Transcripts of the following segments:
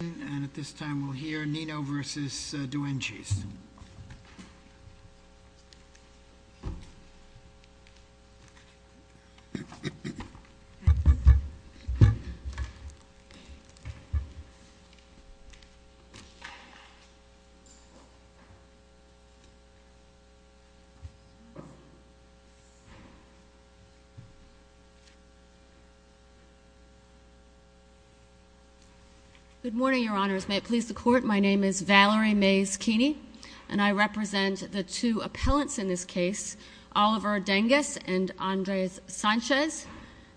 And at this time, we'll hear Nino v. Doenges. Good morning, Your Honors. May it please the Court, my name is Valerie Mays Keeney. And I represent the two appellants in this case, Oliver Dengas and Andres Sanchez.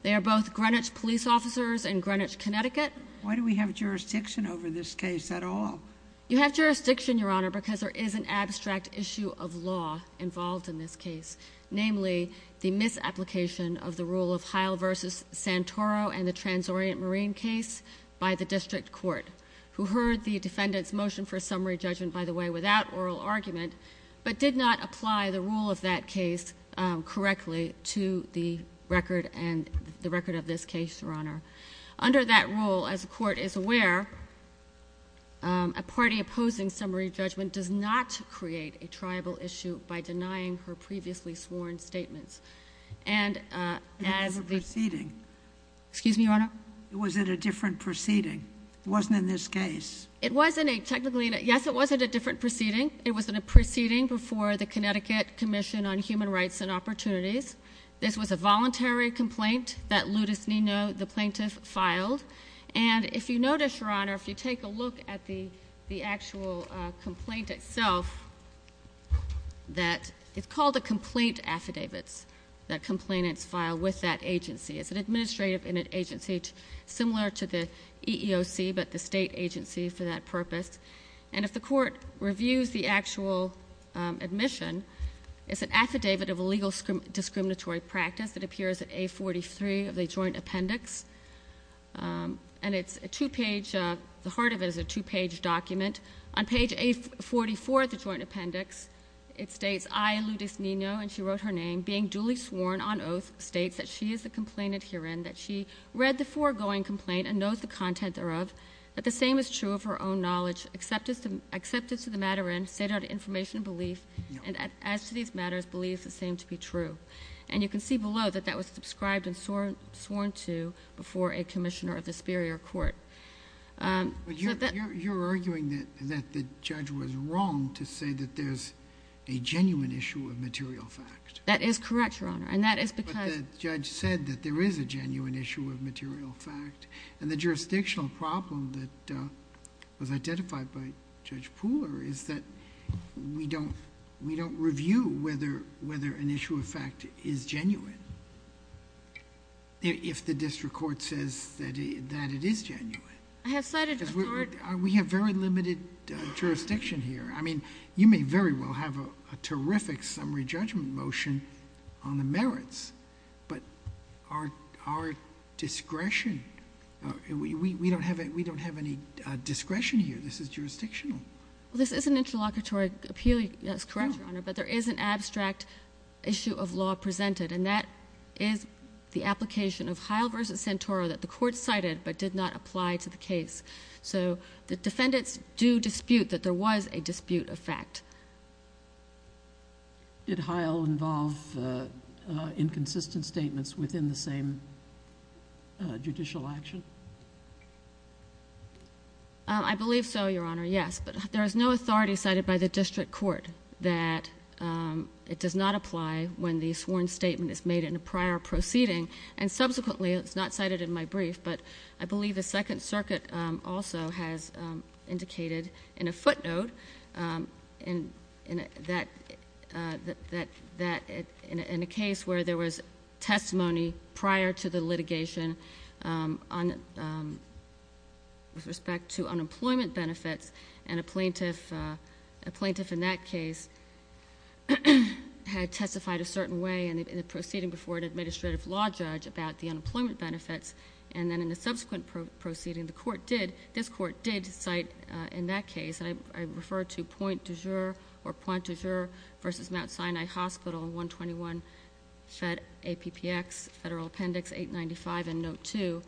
They are both Greenwich police officers in Greenwich, Connecticut. Why do we have jurisdiction over this case at all? You have jurisdiction, Your Honor, because there is an abstract issue of law involved in this case, namely the misapplication of the rule of Heil v. Santoro and the Trans-Orient Marine case by the district court, who heard the defendant's motion for a summary judgment by the way without oral argument, but did not apply the rule of that case correctly to the record and the record of this case, Your Honor. Under that rule, as the Court is aware, a party opposing summary judgment does not create a tribal issue by denying her previously sworn statements. And as the— It was a different proceeding. Excuse me, Your Honor? It was a different proceeding. It wasn't in this case. It wasn't a—technically, yes, it wasn't a different proceeding. It was a proceeding before the Connecticut Commission on Human Rights and Opportunities. This was a voluntary complaint that Ludus Nino, the plaintiff, filed. And if you notice, Your Honor, if you take a look at the actual complaint itself, that it's called a complaint affidavits that complainants file with that agency. It's an administrative agency similar to the EEOC, but the state agency for that purpose. And if the Court reviews the actual admission, it's an affidavit of illegal discriminatory practice that appears at A43 of the joint appendix. And it's a two-page—the heart of it is a two-page document. On page A44 of the joint appendix, it states, I, Ludus Nino, and she wrote her name, being the complainant herein, that she read the foregoing complaint and knows the content thereof, that the same is true of her own knowledge, accepted to the matter in, stated out information and belief, and as to these matters, believes the same to be true. And you can see below that that was subscribed and sworn to before a commissioner of the superior court. So that— But you're arguing that the judge was wrong to say that there's a genuine issue of material fact. That is correct, Your Honor. And that is because— Well, I said that there is a genuine issue of material fact, and the jurisdictional problem that was identified by Judge Pooler is that we don't review whether an issue of fact is genuine if the district court says that it is genuine. I have cited a court— We have very limited jurisdiction here. I mean, you may very well have a terrific summary judgment motion on the merits, but our discretion—we don't have any discretion here. This is jurisdictional. Well, this is an interlocutory appeal. That's correct, Your Honor, but there is an abstract issue of law presented, and that is the application of Heil v. Santoro that the court cited but did not apply to the case. So the defendants do dispute that there was a dispute of fact. Did Heil involve inconsistent statements within the same judicial action? I believe so, Your Honor, yes, but there is no authority cited by the district court that it does not apply when the sworn statement is made in a prior proceeding, and subsequently—it's not cited in my brief, but I believe the Second Circuit also has indicated in a footnote in a case where there was testimony prior to the litigation with respect to unemployment benefits, and a plaintiff in that case had testified a certain way in a proceeding before an administrative law judge about the unemployment benefits, and then in a subsequent proceeding, the court did—this court did cite in that case, and I refer to Pointe du Jure or Pointe du Jure v. Mount Sinai Hospital, 121 APPX, Federal Appendix 895 and Note 2,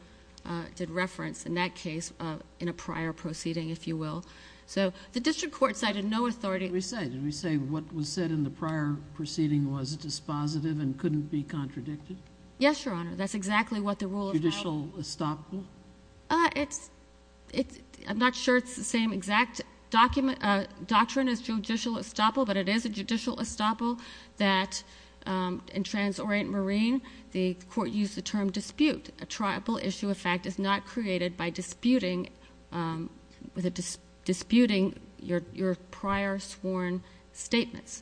did reference in that case in a prior proceeding, if you will. So the district court cited no authority— Did we say what was said in the prior proceeding was dispositive and couldn't be contradicted? Yes, Your Honor, that's exactly what the rule of Heil— Judicial estoppel? It's—I'm not sure it's the same exact document—doctrine as judicial estoppel, but it is a judicial estoppel that in Trans-Orient Marine, the court used the term dispute. A triable issue of fact is not created by disputing—with a disputing your prior sworn statements.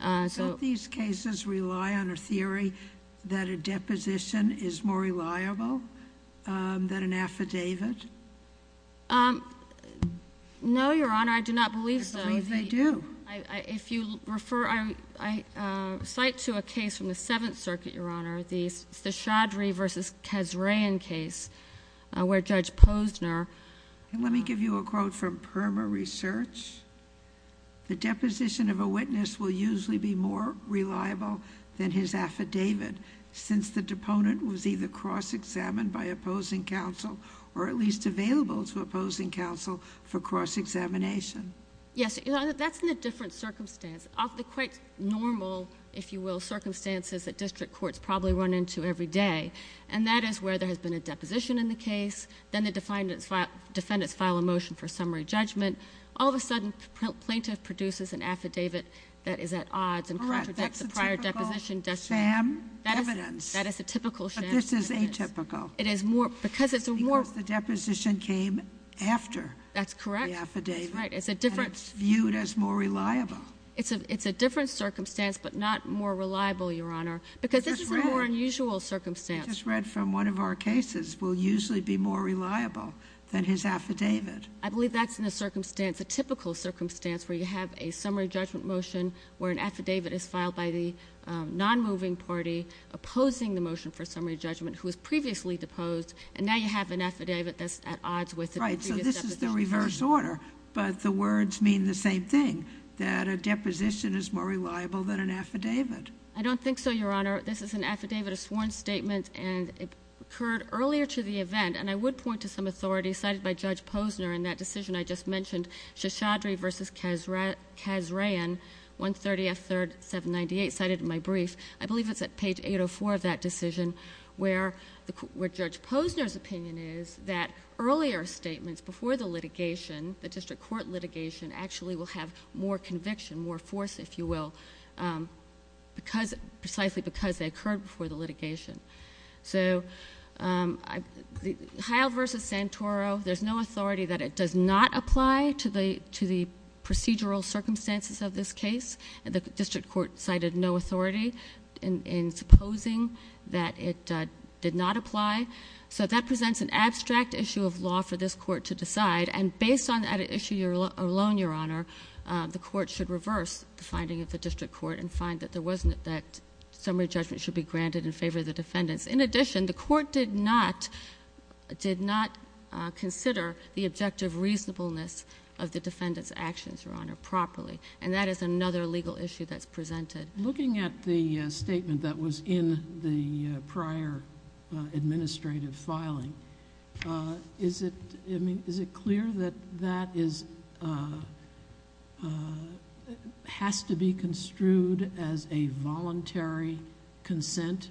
Don't these cases rely on a theory that a deposition is more reliable than an affidavit? No, Your Honor, I do not believe so. I believe they do. If you refer—I cite to a case from the Seventh Circuit, Your Honor, the Chaudhry v. Kesrayan case where Judge Posner— will usually be more reliable than his affidavit since the deponent was either cross-examined by opposing counsel or at least available to opposing counsel for cross-examination. Yes, Your Honor, that's in a different circumstance. Of the quite normal, if you will, circumstances that district courts probably run into every day and that is where there has been a deposition in the case, then the defendants file a motion for summary judgment. All of a sudden, plaintiff produces an affidavit that is at odds and contradicts the prior Correct. That's a typical sham evidence. That is a typical sham evidence. But this is atypical. It is more—because it's a more— Because the deposition came after the affidavit. That's correct. That's right. It's a different— And it's viewed as more reliable. It's a different circumstance but not more reliable, Your Honor, because this is a more unusual circumstance. It's just read. It's just read from one of our cases will usually be more reliable than his affidavit. I believe that's in a circumstance, a typical circumstance where you have a summary judgment motion where an affidavit is filed by the non-moving party opposing the motion for summary judgment who was previously deposed and now you have an affidavit that's at odds with the previous deposition. Right. So this is the reverse order. But the words mean the same thing, that a deposition is more reliable than an affidavit. I don't think so, Your Honor. This is an affidavit, a sworn statement and it occurred earlier to the event and I would point to some authority cited by Judge Posner in that decision I just mentioned, Shashadri v. Kasraian, 130 F. 3rd, 798, cited in my brief. I believe it's at page 804 of that decision where Judge Posner's opinion is that earlier statements before the litigation, the district court litigation actually will have more conviction, more force, if you will, precisely because they occurred before the litigation. So Heil v. Santoro, there's no authority that it does not apply to the procedural circumstances of this case. The district court cited no authority in supposing that it did not apply. So that presents an abstract issue of law for this court to decide and based on that issue alone, Your Honor, the court should reverse the finding of the district court and find that there wasn't that summary judgment should be granted in favor of the defendants. In addition, the court did not consider the objective reasonableness of the defendant's actions, Your Honor, properly and that is another legal issue that's presented. Looking at the statement that was in the prior administrative filing, is it clear that that has to be construed as a voluntary consent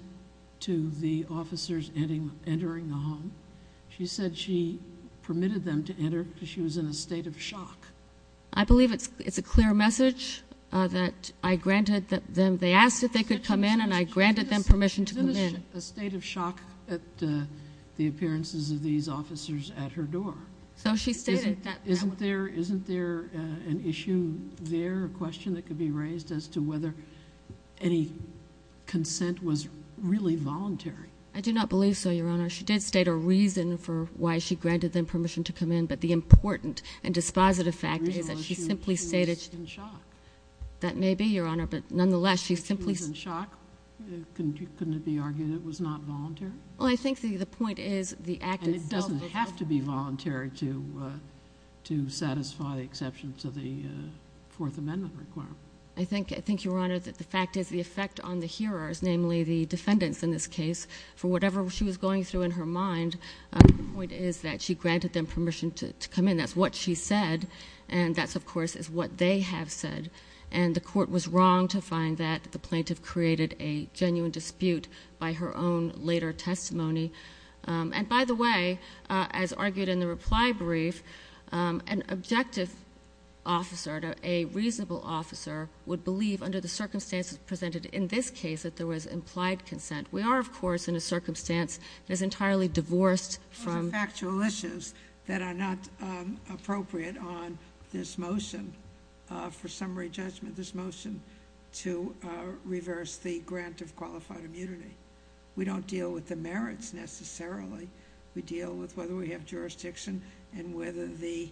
to the officers entering the home? She said she permitted them to enter because she was in a state of shock. I believe it's a clear message that I granted them, they asked if they could come in and I granted them permission to come in. Isn't it a state of shock at the appearances of these officers at her door? So she stated that. Isn't there an issue there, a question that could be raised as to whether any consent was really voluntary? I do not believe so, Your Honor. She did state a reason for why she granted them permission to come in, but the important and dispositive fact is that she simply stated that maybe, Your Honor, but nonetheless, she simply... She was in shock? Couldn't it be argued it was not voluntary? Well, I think the point is the act itself... And it doesn't have to be voluntary to satisfy the exception to the Fourth Amendment requirement. I think, Your Honor, that the fact is the effect on the hearers, namely the defendants in this case, for whatever she was going through in her mind, the point is that she granted them permission to come in. That's what she said, and that, of course, is what they have said. The court was wrong to find that the plaintiff created a genuine dispute by her own later testimony. And, by the way, as argued in the reply brief, an objective officer, a reasonable officer, would believe under the circumstances presented in this case that there was implied consent. We are, of course, in a circumstance that is entirely divorced from... Those are factual issues that are not appropriate on this motion for summary judgment, this motion to reverse the grant of qualified immunity. We don't deal with the merits necessarily. We deal with whether we have jurisdiction and whether the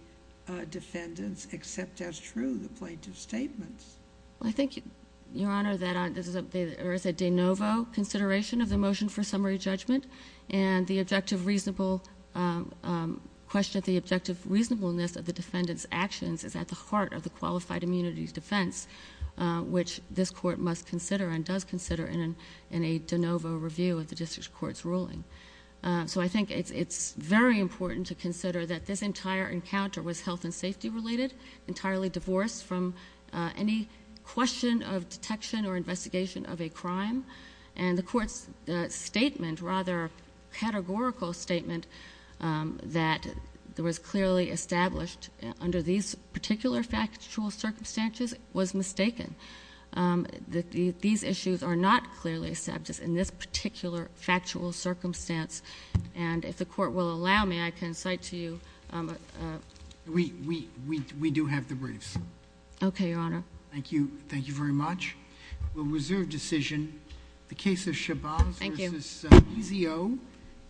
defendants accept as true the plaintiff's statements. I think, Your Honor, that there is a de novo consideration of the motion for summary judgment, and the objective reasonableness of the defendant's actions is at the heart of the qualified immunity's consideration in a de novo review of the district court's ruling. So I think it's very important to consider that this entire encounter was health and safety related, entirely divorced from any question of detection or investigation of a crime. And the court's statement, rather categorical statement, that was clearly established under these particular factual circumstances was mistaken. These issues are not clearly established in this particular factual circumstance, and if the Court will allow me, I can cite to you... We do have the briefs. Okay, Your Honor. Thank you. Thank you very much. We'll reserve decision. The case of Chabaz v. Ezeo... Thank you....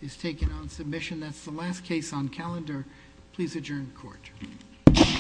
is taken on submission. That's the last case on calendar. Please adjourn the Court.